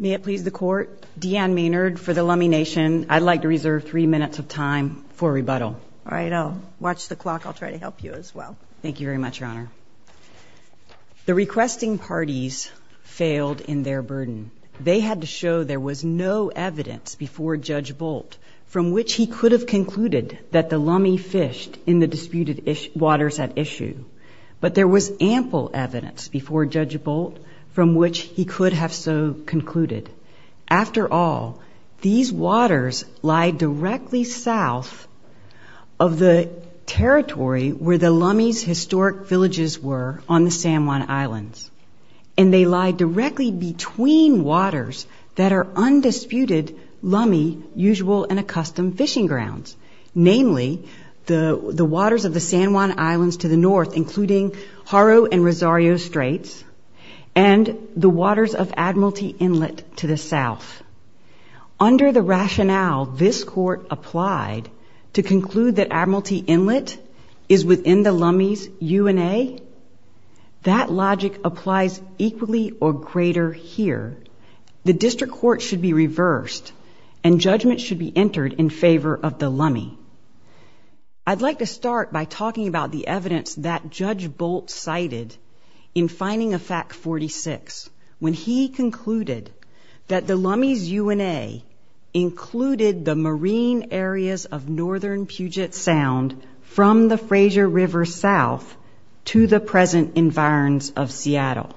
May it please the court, Deanne Maynard for the Lummi Nation. I'd like to reserve three minutes of time for rebuttal. All right, I'll watch the clock. I'll try to help you as well. Thank you very much, Your Honor. The requesting parties failed in their burden. They had to show there was no evidence before Judge Bolt from which he could have concluded that the Lummi fished in the disputed waters at issue. But there was ample evidence before Judge Bolt from which he could have so concluded. After all, these waters lie directly south of the territory where the Lummi's historic villages were on the San Juan Islands. And they lie directly between waters that are undisputed Lummi usual and accustomed fishing grounds. Namely, the waters of the San Juan Islands to the north, including Haro and Rosario Straits, and the waters of Admiralty Inlet to the south. Under the rationale this court applied to conclude that Admiralty Inlet is within the Lummi's UNA, that logic applies equally or greater here. The district court should be reversed, and judgment should be entered in favor of the Lummi. I'd like to start by talking about the evidence that Judge Bolt cited in finding of fact 46, when he concluded that the Lummi's UNA included the marine areas of northern Puget Sound from the Fraser River south to the present environs of Seattle.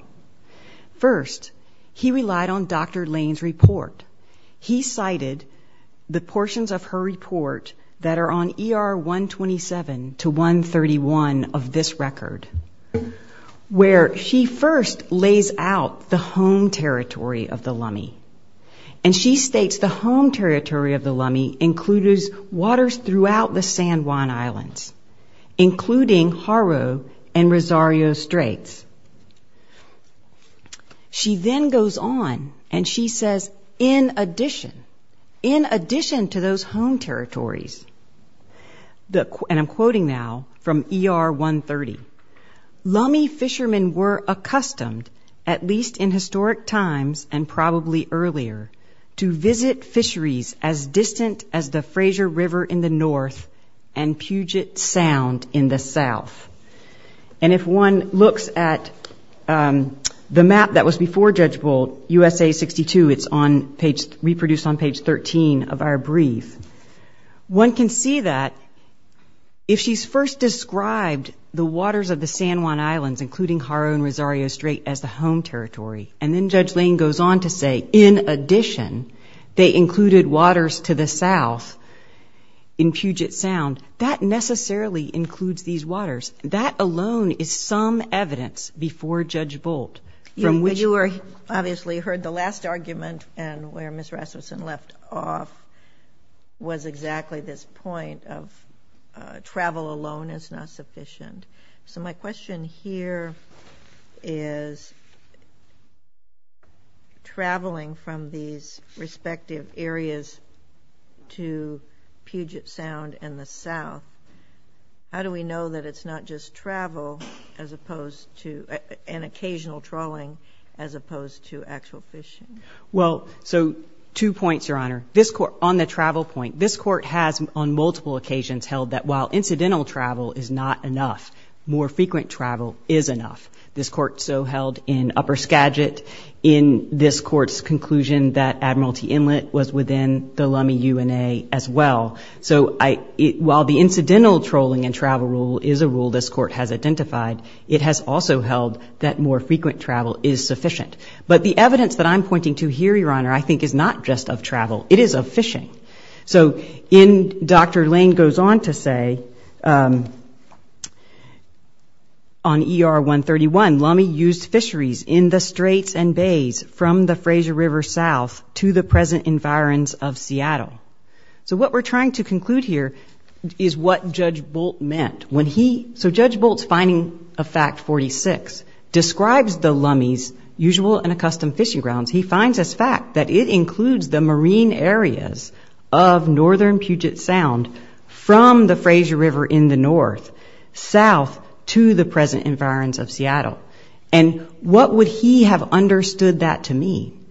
First, he relied on Dr. Lane's report. He cited the portions of her report that are on ER 127 to 131 of this record, where she first lays out the home territory of the Lummi. And she states the home territory of the Lummi includes waters throughout the San Juan Islands, including Haro and Rosario Straits. She then goes on and she says, in addition, in addition to those home territories, and I'm quoting now from ER 130, Lummi fishermen were accustomed, at least in historic times and probably earlier, to visit fisheries as distant as the Fraser River in the north and Puget Sound in the south. And if one looks at the map that was before Judge Bolt, USA 62, it's reproduced on page 13 of our brief, one can see that if she's first described the waters of the San Juan Islands, including Haro and Rosario Straits, as the home territory, and then Judge Lane goes on to say, in addition, they included waters to the south in Puget Sound, that necessarily includes these waters. That alone is some evidence before Judge Bolt. You obviously heard the last argument and where Ms. Rasmussen left off was exactly this point of travel alone is not sufficient. So my question here is, traveling from these respective areas to Puget Sound and the south, how do we know that it's not just travel as opposed to an occasional trawling as opposed to actual fishing? Well, so two points, Your Honor. This court, on the travel point, this court has on multiple occasions held that while incidental travel is not enough, more frequent travel is enough. This court so held in Upper Skagit in this court's conclusion that Admiralty Inlet was within the Lummi UNA as well. So while the incidental trawling and travel rule is a rule this court has identified, it has also held that more frequent travel is sufficient. But the evidence that I'm pointing to here, Your Honor, I think is not just of travel. It is of fishing. So Dr. Lane goes on to say, on ER 131, Lummi used fisheries in the straits and bays from the Fraser River south to the present environs of Seattle. So what we're trying to conclude here is what Judge Bolt meant. So Judge Bolt's finding of fact 46 describes the Lummi's usual and accustomed fishing grounds. He finds as fact that it includes the marine areas of northern Puget Sound from the Fraser River in the north, south to the present environs of Seattle. And what would he have understood that to mean?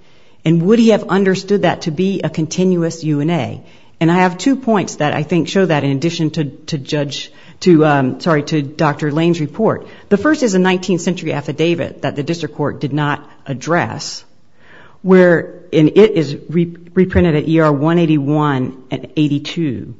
And would he have understood that to be a continuous UNA? And I have two points that I think show that in addition to Judge to, sorry, to Dr. Lane's report. The first is a 19th century affidavit that the district court did not address, where it is reprinted at ER 181 and 82,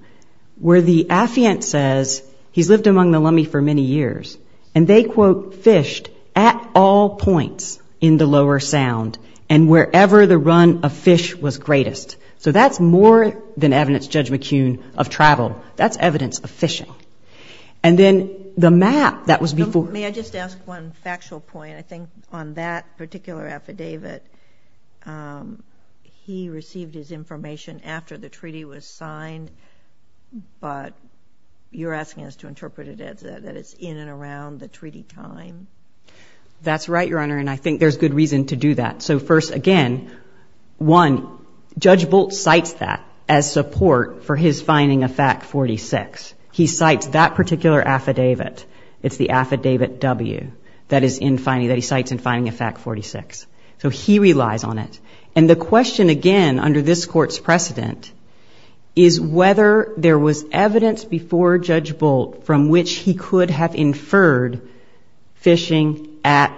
where the affiant says he's lived among the Lummi for many years. And they, quote, fished at all points in the Lower Sound and wherever the run of fish was greatest. So that's more than evidence, Judge McCune, of travel. That's evidence of fishing. And then the map that was before. May I just ask one factual point? I think on that particular affidavit, he received his information after the treaty was signed, but you're asking us to interpret it as that it's in and around the treaty time. That's right, Your Honor, and I think there's good reason to do that. So first, again, one, Judge Bolt cites that as support for his finding of fact 46. He cites that particular affidavit. It's the affidavit W that he cites in finding of fact 46. So he relies on it. And the question, again, under this Court's precedent is whether there was evidence before Judge Bolt from which he could have inferred fishing at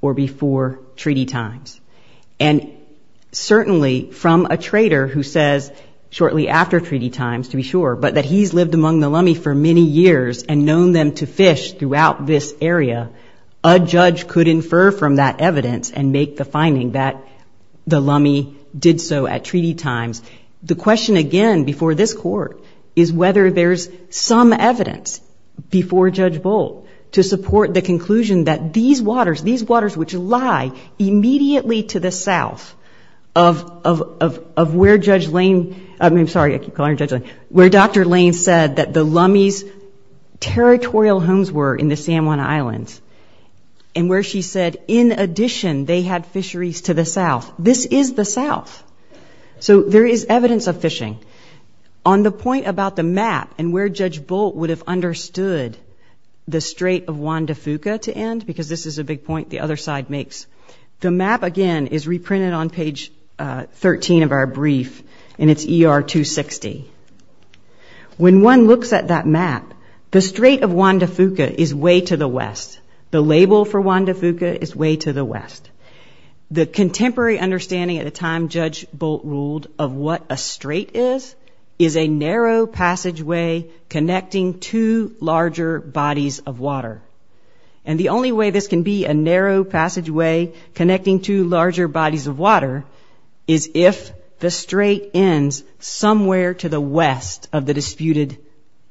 or before treaty times. And certainly from a trader who says shortly after treaty times, to be sure, but that he's lived among the Lummi for many years and known them to fish throughout this area, a judge could infer from that evidence and make the finding that the Lummi did so at treaty times. The question, again, before this Court is whether there's some evidence before Judge Bolt to support the conclusion that these waters, these waters which lie immediately to the south of where Judge Lane, I'm sorry, I keep calling her Judge Lane, where Dr. Lane said that the Lummi's territorial homes were in the San Juan Islands and where she said, in addition, they had fisheries to the south. This is the south. So there is evidence of fishing. On the point about the map and where Judge Bolt would have understood the Strait of Juan de Fuca to end, because this is a big point the other side makes, the map, again, is reprinted on page 13 of our brief, and it's ER 260. When one looks at that map, the Strait of Juan de Fuca is way to the west. The label for Juan de Fuca is way to the west. The contemporary understanding at the time Judge Bolt ruled of what a strait is is a narrow passageway connecting two larger bodies of water. And the only way this can be a narrow passageway connecting two larger bodies of water is if the strait ends somewhere to the west of the disputed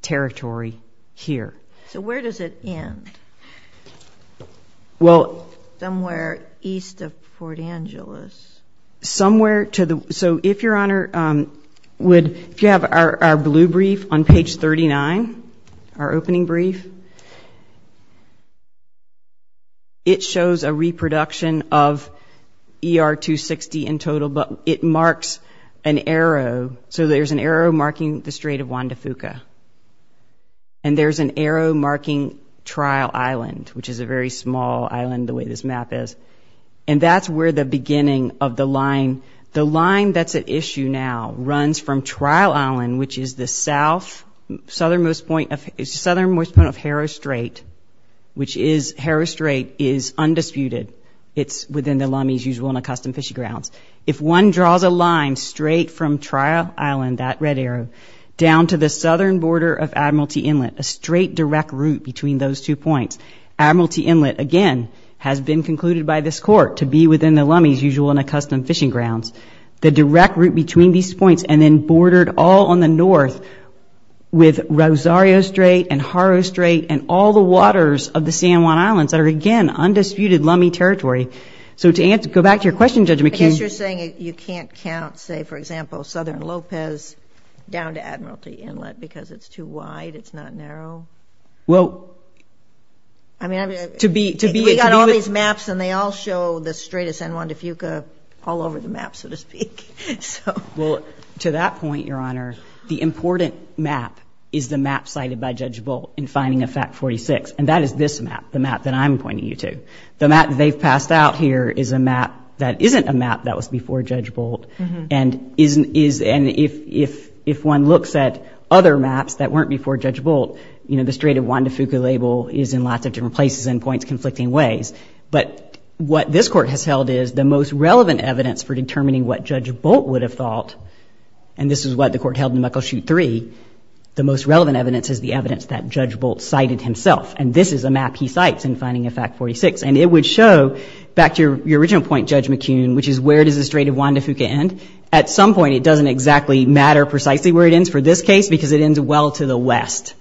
territory here. So where does it end? Somewhere east of Fort Angeles. Somewhere to the west. So if you have our blue brief on page 39, our opening brief, it shows a reproduction of ER 260 in total, but it marks an arrow. So there's an arrow marking the Strait of Juan de Fuca, and there's an arrow marking Trial Island, which is a very small island the way this map is. And that's where the beginning of the line, the line that's at issue now runs from Trial Island, which is the southernmost point of Harrow Strait, which is Harrow Strait is undisputed. It's within the Lummies' usual and accustomed fishing grounds. If one draws a line straight from Trial Island, that red arrow, down to the southern border of Admiralty Inlet, a straight direct route between those two points, Admiralty Inlet, again, has been concluded by this court to be within the Lummies' usual and accustomed fishing grounds, the direct route between these points, and then bordered all on the north with Rosario Strait and Harrow Strait and all the waters of the San Juan Islands that are, again, undisputed Lummie territory. So to answer – go back to your question, Judge McKeon. I guess you're saying you can't count, say, for example, southern Lopez down to Admiralty Inlet because it's too wide, it's not narrow? Well, to be – to be – all over the map, so to speak. Well, to that point, Your Honor, the important map is the map cited by Judge Bolt in finding of fact 46, and that is this map, the map that I'm pointing you to. The map that they've passed out here is a map that isn't a map that was before Judge Bolt and isn't – and if one looks at other maps that weren't before Judge Bolt, you know, the Strait of Juan de Fuca label is in lots of different places and points conflicting ways. But what this Court has held is the most relevant evidence for determining what Judge Bolt would have thought, and this is what the Court held in Muckleshoot 3, the most relevant evidence is the evidence that Judge Bolt cited himself. And this is a map he cites in finding of fact 46. And it would show – back to your original point, Judge McKeon, which is where does the Strait of Juan de Fuca end? At some point, it doesn't exactly matter precisely where it ends for this case because it ends well to the west.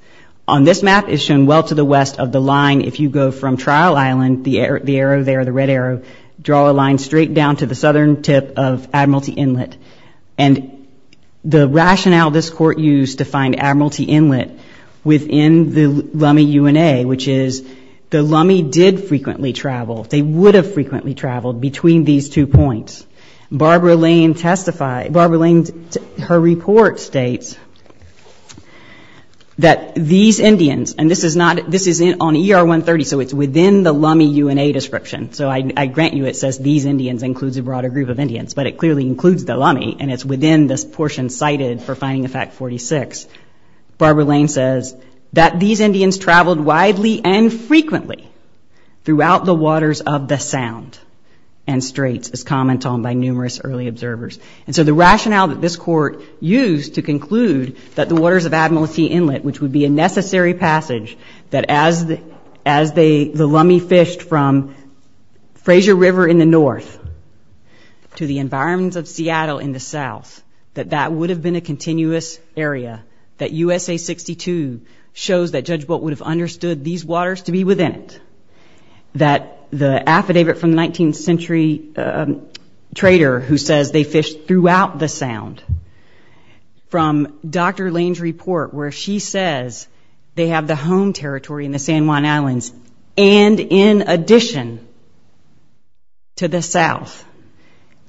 On this map, it's shown well to the west of the line. If you go from Trial Island, the arrow there, the red arrow, draw a line straight down to the southern tip of Admiralty Inlet. And the rationale this Court used to find Admiralty Inlet within the Lummi UNA, which is the Lummi did frequently travel. They would have frequently traveled between these two points. Barbara Lane's report states that these Indians, and this is on ER 130, so it's within the Lummi UNA description, so I grant you it says these Indians includes a broader group of Indians, but it clearly includes the Lummi, and it's within this portion cited for finding of fact 46. Barbara Lane says that these Indians traveled widely and frequently throughout the waters of the Sound and Straits, as commented on by numerous early observers. And so the rationale that this Court used to conclude that the waters of Admiralty Inlet, which would be a necessary passage that as the Lummi fished from Fraser River in the north to the environments of Seattle in the south, that that would have been a continuous area, that USA 62 shows that Judge Bolt would have understood these waters to be within it, that the affidavit from the 19th century trader who says they fished throughout the Sound, from Dr. Lane's report where she says they have the home territory in the San Juan Islands and in addition to the south,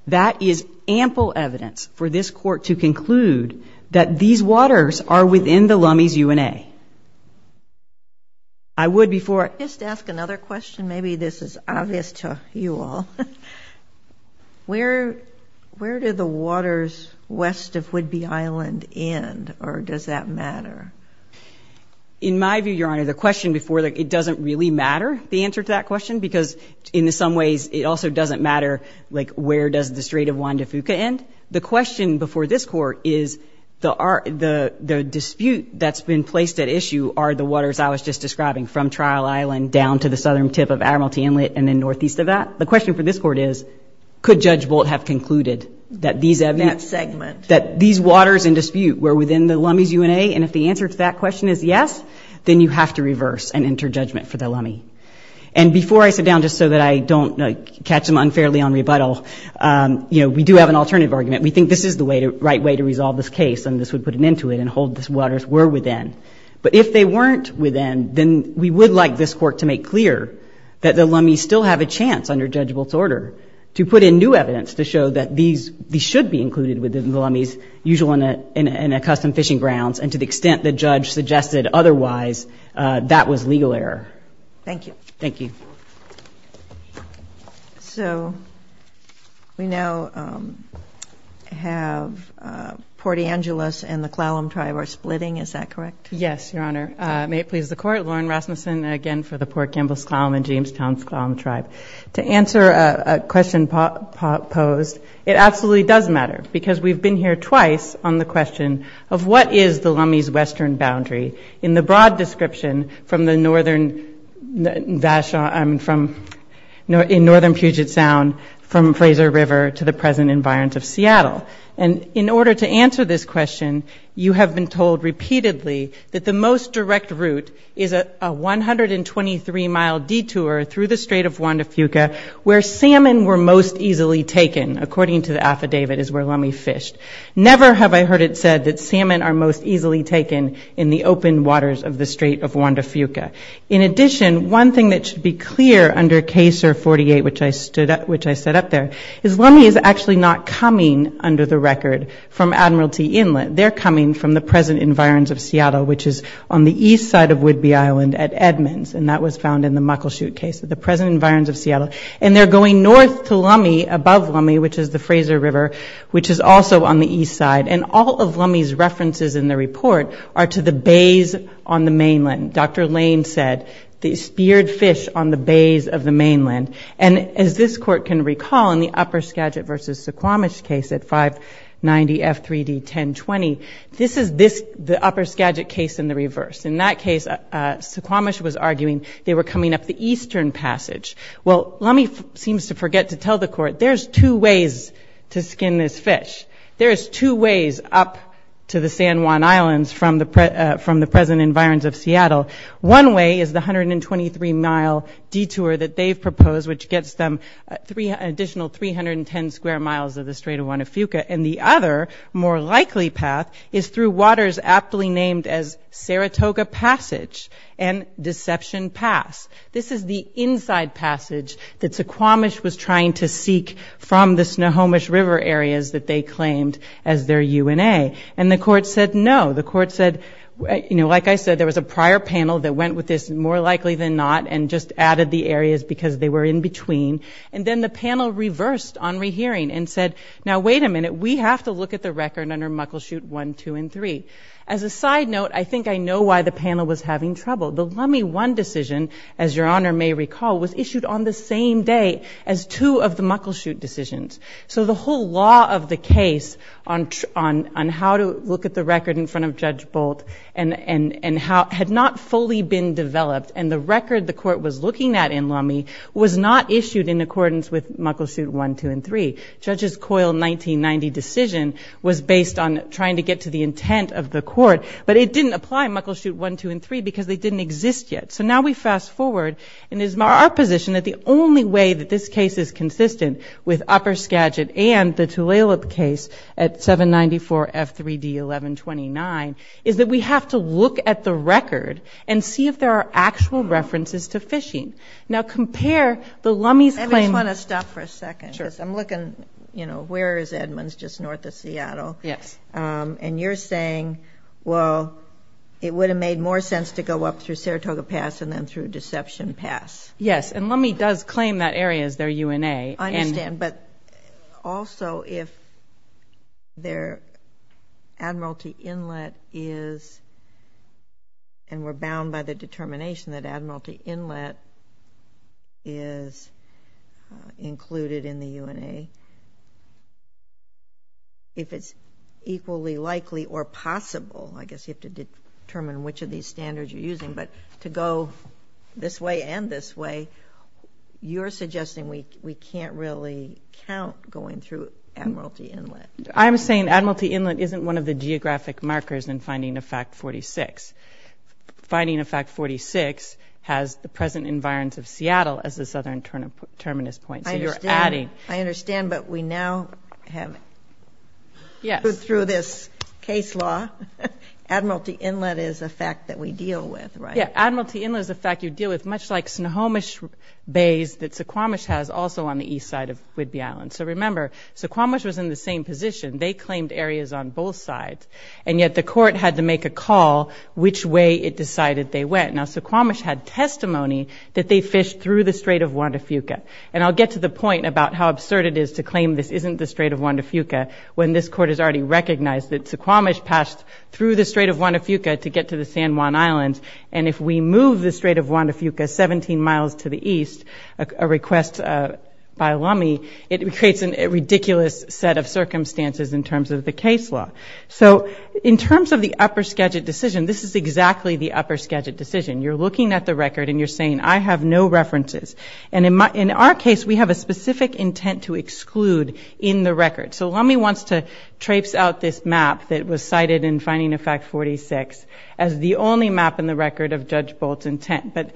that is ample evidence for this Court to conclude that these waters are within the Lummi's UNA. I would before... Just ask another question. Maybe this is obvious to you all. Where do the waters west of Whidbey Island end, or does that matter? In my view, Your Honor, the question before that, it doesn't really matter, the answer to that question, because in some ways it also doesn't matter like where does the Strait of Juan de Fuca end. The question before this Court is the dispute that's been placed at issue are the waters I was just describing from Trial Island down to the southern tip of Admiralty Inlet and then northeast of that. The question for this Court is could Judge Bolt have concluded that these... That segment. That these waters in dispute were within the Lummi's UNA, and if the answer to that question is yes, then you have to reverse and enter judgment for the Lummi. And before I sit down just so that I don't catch them unfairly on rebuttal, we do have an alternative argument. We think this is the right way to resolve this case, and this would put an end to it and hold these waters were within. But if they weren't within, then we would like this Court to make clear that the Lummi's still have a chance under Judge Bolt's order to put in new evidence to show that these should be included within the Lummi's usual and accustomed fishing grounds, and to the extent the judge suggested otherwise, that was legal error. Thank you. Thank you. So we now have Port Angeles and the Clallam Tribe are splitting. Is that correct? Yes, Your Honor. May it please the Court. Lauren Rasmussen again for the Port Campbell's Clallam and Jamestown's Clallam Tribe. To answer a question posed, it absolutely does matter because we've been here twice on the question of what is the Lummi's in northern Puget Sound from Fraser River to the present environs of Seattle. And in order to answer this question, you have been told repeatedly that the most direct route is a 123-mile detour through the Strait of Juan de Fuca where salmon were most easily taken, according to the affidavit, is where Lummi fished. Never have I heard it said that salmon are most easily taken in the open waters of the Strait of Juan de Fuca. In addition, one thing that should be clear under CASER 48, which I set up there, is Lummi is actually not coming under the record from Admiralty Inlet. They're coming from the present environs of Seattle, which is on the east side of Whidbey Island at Edmonds. And that was found in the Muckleshoot case, the present environs of Seattle. And they're going north to Lummi, above Lummi, which is the Fraser River, which is also on the east side. And all of Lummi's references in the report are to the bays on the mainland. Dr. Lane said they speared fish on the bays of the mainland. And as this Court can recall, in the Upper Skagit v. Suquamish case at 590 F3D 1020, this is the Upper Skagit case in the reverse. In that case, Suquamish was arguing they were coming up the eastern passage. Well, Lummi seems to forget to tell the Court there's two ways to skin this fish. There is two ways up to the San Juan Islands from the present environs of Seattle. One way is the 123-mile detour that they've proposed, which gets them an additional 310 square miles of the Strait of Huanufuca. And the other more likely path is through waters aptly named as Saratoga Passage and Deception Pass. This is the inside passage that Suquamish was trying to seek from the Snohomish River areas that they claimed as their UNA. And the Court said no. The Court said, you know, like I said, there was a prior panel that went with this more likely than not and just added the areas because they were in between. And then the panel reversed on rehearing and said, now wait a minute, we have to look at the record under Muckleshoot 1, 2, and 3. As a side note, I think I know why the panel was having trouble. The Lummi 1 decision, as Your Honor may recall, was issued on the same day as two of the Muckleshoot decisions. So the whole law of the case on how to look at the record in front of Judge Bolt had not fully been developed, and the record the Court was looking at in Lummi was not issued in accordance with Muckleshoot 1, 2, and 3. Judge's COIL 1990 decision was based on trying to get to the intent of the Court, but it didn't apply in Muckleshoot 1, 2, and 3 because they didn't exist yet. So now we fast forward, and it is our position that the only way that this case is consistent with Upper Skagit and the Tulalip case at 794 F3D 1129 is that we have to look at the record and see if there are actual references to phishing. Now compare the Lummi's claim... I just want to stop for a second. Sure. Because I'm looking, you know, where is Edmonds, just north of Seattle? Yes. And you're saying, well, it would have made more sense to go up through Saratoga Pass and then through Deception Pass. Yes, and Lummi does claim that area as their UNA. I understand, but also if their Admiralty Inlet is, and we're bound by the determination that Admiralty Inlet is included in the UNA, if it's equally likely or possible, I guess you have to determine which of these standards you're using, but to go this way and this way, you're suggesting we can't really count going through Admiralty Inlet. I'm saying Admiralty Inlet isn't one of the geographic markers in Finding of Fact 46. Finding of Fact 46 has the present environs of Seattle as the southern terminus point. I understand, but we now have, through this case law, Admiralty Inlet is a fact that we deal with, right? Yeah, Admiralty Inlet is a fact you deal with, much like Snohomish Bays that Suquamish has also on the east side of Whidbey Island. So remember, Suquamish was in the same position. They claimed areas on both sides, and yet the court had to make a call which way it decided they went. Now, Suquamish had testimony that they fished through the Strait of Juan de Fuca, and I'll get to the point about how absurd it is to claim this isn't the Strait of Juan de Fuca when this court has already recognized that Suquamish passed through the Strait of Juan de Fuca to get to the San Juan Islands, and if we move the Strait of Juan de Fuca 17 miles to the east, a request by Lummi, it creates a ridiculous set of circumstances in terms of the case law. So in terms of the upper Skagit decision, this is exactly the upper Skagit decision. You're looking at the record, and you're saying, I have no references. And in our case, we have a specific intent to exclude in the record. So Lummi wants to traipse out this map that was cited in Finding a Fact 46 as the only map in the record of Judge Bolt's intent. But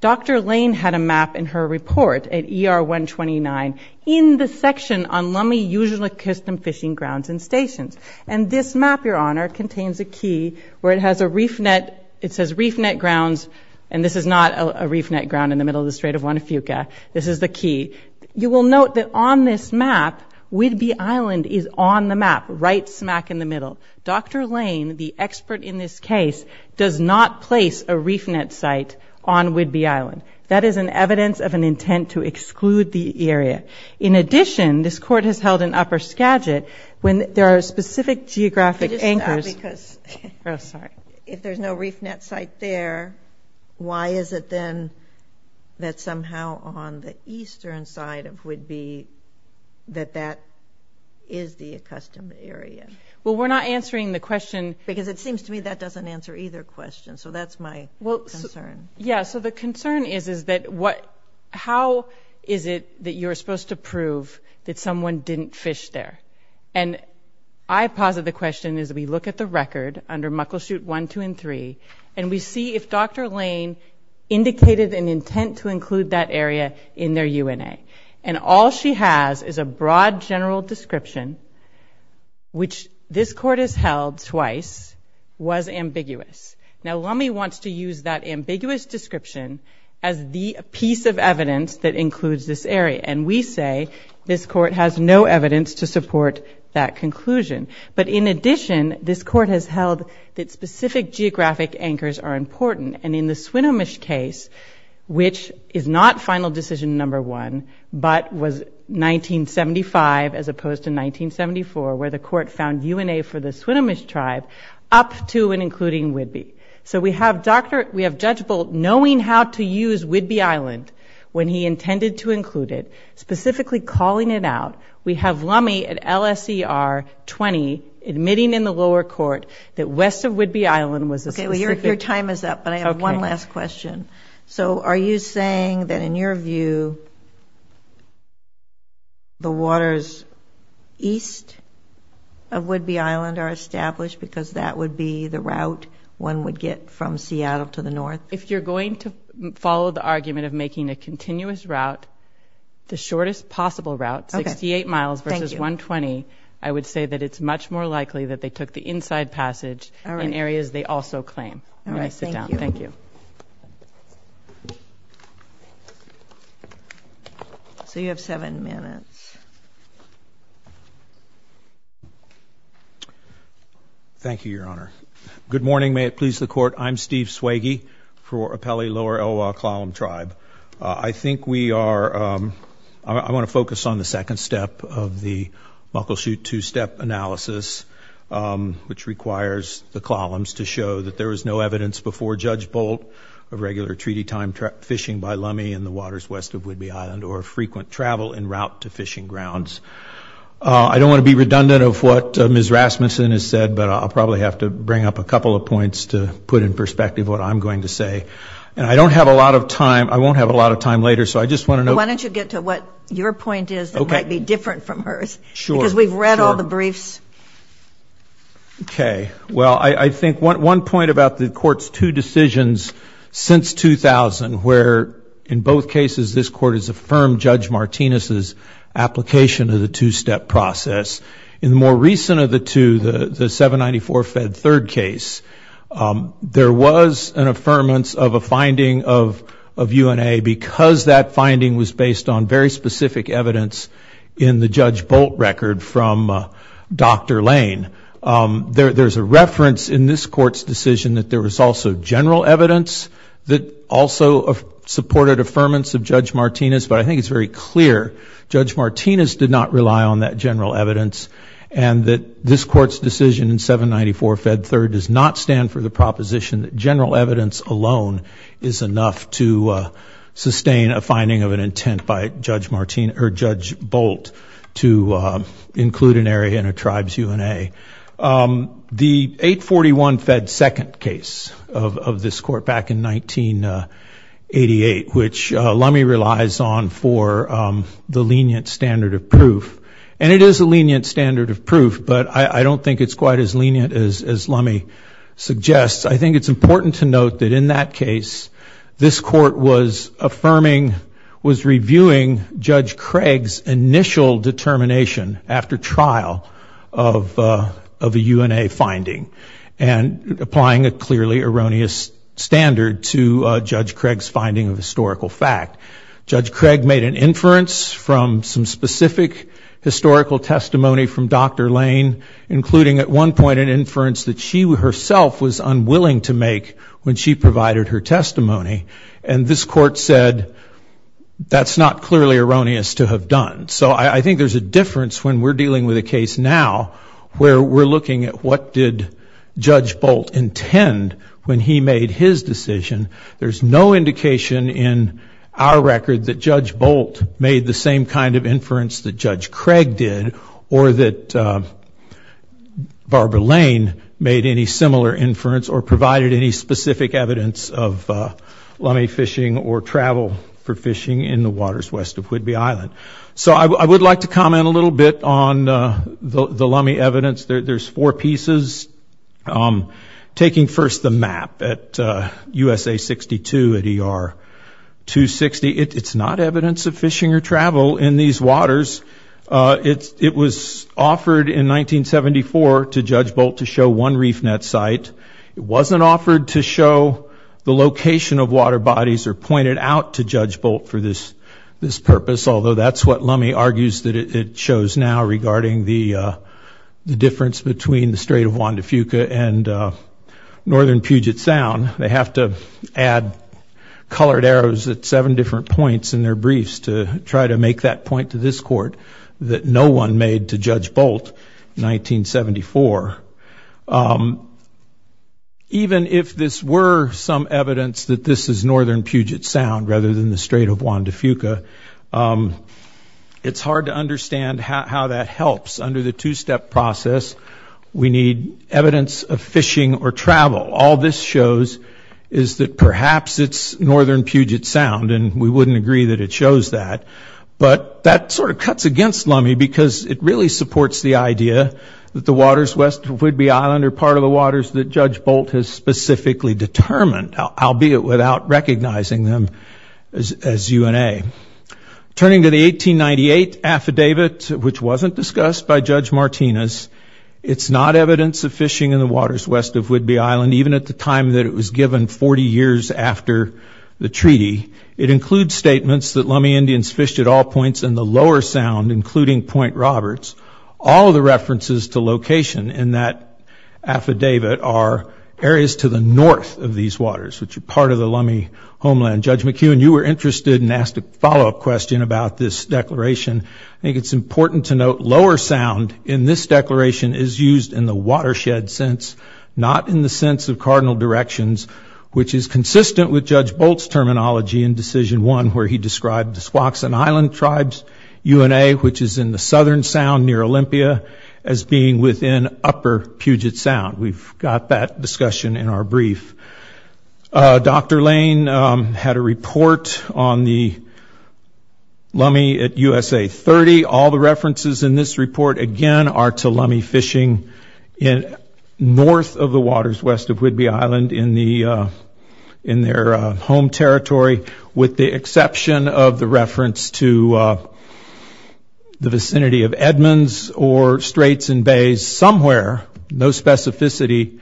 Dr. Lane had a map in her report at ER 129 in the section on Lummi Usual and Custom Fishing Grounds and Stations, and this map, Your Honor, contains a key where it has a reef net. It says reef net grounds, and this is not a reef net ground in the middle of the Strait of Juan de Fuca. This is the key. You will note that on this map, Whidbey Island is on the map right smack in the middle. Dr. Lane, the expert in this case, does not place a reef net site on Whidbey Island. That is an evidence of an intent to exclude the area. In addition, this court has held in upper Skagit when there are specific geographic anchors. Oh, sorry. If there's no reef net site there, why is it then that somehow on the eastern side of Whidbey that that is the accustomed area? Well, we're not answering the question. Because it seems to me that doesn't answer either question. So that's my concern. Yeah, so the concern is, is that what – how is it that you're supposed to prove that someone didn't fish there? And I posit the question as we look at the record under Muckleshoot 1, 2, and 3, and we see if Dr. Lane indicated an intent to include that area in their UNA. And all she has is a broad general description, which this court has held twice, was ambiguous. Now, Lummi wants to use that ambiguous description as the piece of evidence that includes this area. And we say this court has no evidence to support that conclusion. But in addition, this court has held that specific geographic anchors are important. And in the Swinomish case, which is not final decision number one, but was 1975 as opposed to 1974 where the court found UNA for the Swinomish tribe, up to and including Whidbey. So we have Dr. – we have Judge Bolt knowing how to use Whidbey Island when he intended to include it, specifically calling it out. We have Lummi at LSER 20 admitting in the lower court that west of Whidbey Island was a specific – Okay, well, your time is up, but I have one last question. So are you saying that in your view the waters east of Whidbey Island are established because that would be the route one would get from Seattle to the north? If you're going to follow the argument of making a continuous route, the shortest possible route, 68 miles versus 120, I would say that it's much more likely that they took the inside passage in areas they also claim. May I sit down? Thank you. So you have seven minutes. Thank you, Your Honor. Good morning. May it please the court. I'm Steve Swagey for Appellee Lower Elwha-Klallam Tribe. I think we are – I want to focus on the second step of the Muckleshoot two-step analysis, which requires the Klallams to show that there was no evidence before Judge Bolt of regular treaty time fishing by lummie in the waters west of Whidbey Island or frequent travel en route to fishing grounds. I don't want to be redundant of what Ms. Rasmussen has said, but I'll probably have to bring up a couple of points to put in perspective what I'm going to say. And I don't have a lot of time – I won't have a lot of time later, so I just want to know – Why don't you get to what your point is that might be different from hers? Sure. Because we've read all the briefs. Okay. Well, I think one point about the Court's two decisions since 2000, where in both cases this Court has affirmed Judge Martinez's application of the two-step process. In the more recent of the two, the 794 Fed Third case, there was an affirmance of a finding of UNA because that finding was based on very specific evidence in the Judge Bolt record from Dr. Lane. There's a reference in this Court's decision that there was also general evidence that also supported affirmance of Judge Martinez, but I think it's very clear Judge Martinez did not rely on that general evidence and that this Court's decision in 794 Fed Third does not stand for the proposition that general evidence alone is enough to sustain a finding of an intent by Judge Bolt to include an area in a tribe's UNA. The 841 Fed Second case of this Court back in 1988, which Lumme relies on for the lenient standard of proof, and it is a lenient standard of proof, but I don't think it's quite as lenient as Lumme suggests. I think it's important to note that in that case, this Court was affirming, was reviewing Judge Craig's initial determination after trial of a UNA finding and applying a clearly erroneous standard to Judge Craig's finding of historical fact. Judge Craig made an inference from some specific historical testimony from Dr. Lane, including at one point an inference that she herself was unwilling to make when she provided her testimony, and this Court said that's not clearly erroneous to have done. So I think there's a difference when we're dealing with a case now where we're looking at what did Judge Bolt intend when he made his decision. There's no indication in our record that Judge Bolt made the same kind of inference that Judge Craig did or that Barbara Lane made any similar inference or provided any specific evidence of Lumme fishing or travel for fishing in the waters west of Whidbey Island. So I would like to comment a little bit on the Lumme evidence. There's four pieces. Taking first the map at USA 62 at ER 260, it's not evidence of fishing or travel in these waters. It was offered in 1974 to Judge Bolt to show one reef net site. It wasn't offered to show the location of water bodies or pointed out to Judge Bolt for this purpose, although that's what Lumme argues that it shows now regarding the difference between the Strait of Juan de Fuca and northern Puget Sound. They have to add colored arrows at seven different points in their briefs to try to make that point to this court that no one made to Judge Bolt in 1974. Even if this were some evidence that this is northern Puget Sound rather than the Strait of Juan de Fuca, it's hard to understand how that helps. Under the two-step process, we need evidence of fishing or travel. All this shows is that perhaps it's northern Puget Sound, and we wouldn't agree that it shows that. But that sort of cuts against Lumme because it really supports the idea that the waters west of Whidbey Island are part of the waters that Judge Bolt has specifically determined, albeit without recognizing them as UNA. Turning to the 1898 affidavit, which wasn't discussed by Judge Martinez, it's not evidence of fishing in the waters west of Whidbey Island, even at the time that it was given 40 years after the treaty. It includes statements that Lumme Indians fished at all points in the Lower Sound, including Point Roberts. All the references to location in that affidavit are areas to the north of these waters, which are part of the Lumme homeland. Judge McEwen, you were interested and asked a follow-up question about this declaration. I think it's important to note Lower Sound in this declaration is used in the watershed sense, not in the sense of cardinal directions, which is consistent with Judge Bolt's terminology in Decision 1, where he described the Squaxin Island tribes, UNA, which is in the southern Sound near Olympia, as being within upper Puget Sound. We've got that discussion in our brief. Dr. Lane had a report on the Lumme at USA 30. All the references in this report, again, are to Lumme fishing north of the waters west of Whidbey Island in their home territory, with the exception of the reference to the vicinity of Edmonds or Straits and Bays somewhere, no specificity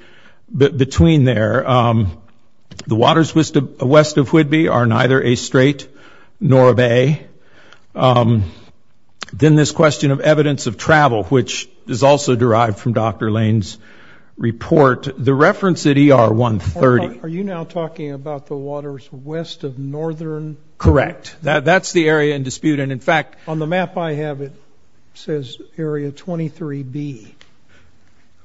between there. The waters west of Whidbey are neither a strait nor a bay. Then this question of evidence of travel, which is also derived from Dr. Lane's report, the reference at ER 130. Are you now talking about the waters west of northern? Correct. That's the area in dispute. On the map I have, it says area 23B.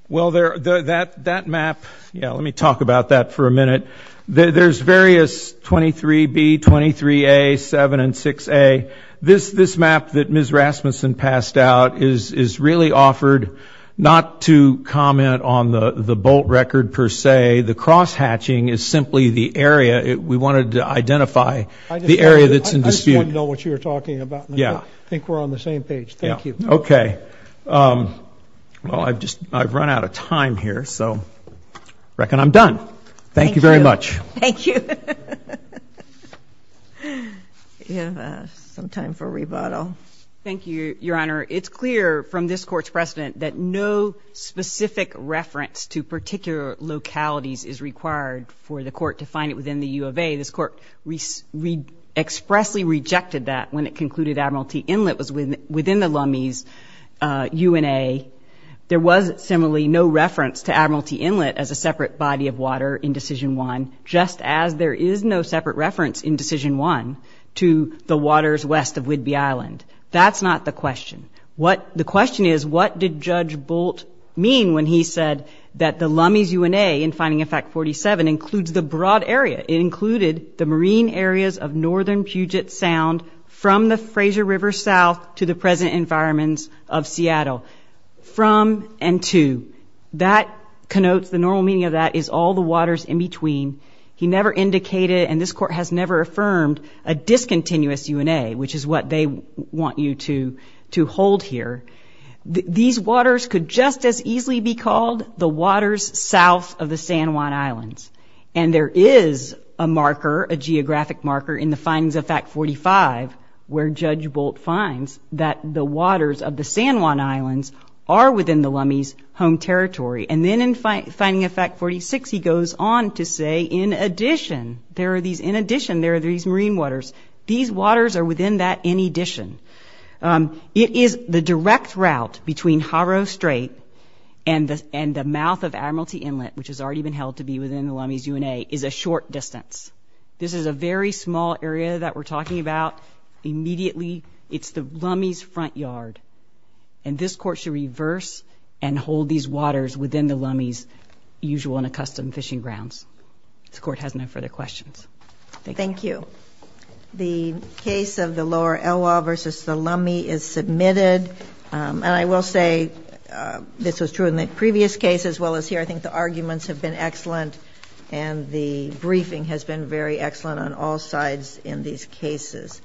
Well, that map, let me talk about that for a minute. There's various 23B, 23A, 7, and 6A. This map that Ms. Rasmussen passed out is really offered not to comment on the Bolt record per se. The crosshatching is simply the area. We wanted to identify the area that's in dispute. I just want to know what you're talking about. I think we're on the same page. Thank you. Okay. Well, I've run out of time here, so I reckon I'm done. Thank you very much. Thank you. We have some time for rebuttal. Thank you, Your Honor. It's clear from this Court's precedent that no specific reference to particular localities is required for the Court to find it within the U of A. This Court expressly rejected that when it concluded Admiralty Inlet was within the Lummies UNA. There was similarly no reference to Admiralty Inlet as a separate body of water in Decision 1, just as there is no separate reference in Decision 1 to the waters west of Whidbey Island. That's not the question. The question is, what did Judge Bolt mean when he said that the Lummies UNA in Finding Effect 47 includes the broad area? It included the marine areas of northern Puget Sound from the Fraser River south to the present environments of Seattle. From and to. That connotes, the normal meaning of that is all the waters in between. He never indicated, and this Court has never affirmed, a discontinuous UNA, which is what they want you to hold here. These waters could just as easily be called the waters south of the San Juan Islands, and there is a marker, a geographic marker, in the findings of Fact 45, where Judge Bolt finds that the waters of the San Juan Islands are within the Lummies' home territory. And then in Finding Effect 46, he goes on to say, in addition, there are these marine waters. These waters are within that in addition. It is the direct route between Harrow Strait and the mouth of Admiralty Inlet, which has already been held to be within the Lummies' UNA, is a short distance. This is a very small area that we're talking about. Immediately, it's the Lummies' front yard. And this Court should reverse and hold these waters within the Lummies' usual and accustomed fishing grounds. This Court has no further questions. Thank you. Thank you. The case of the Lower Elwha v. the Lummies is submitted. And I will say this was true in the previous case as well as here. I think the arguments have been excellent, and the briefing has been very excellent on all sides in these cases.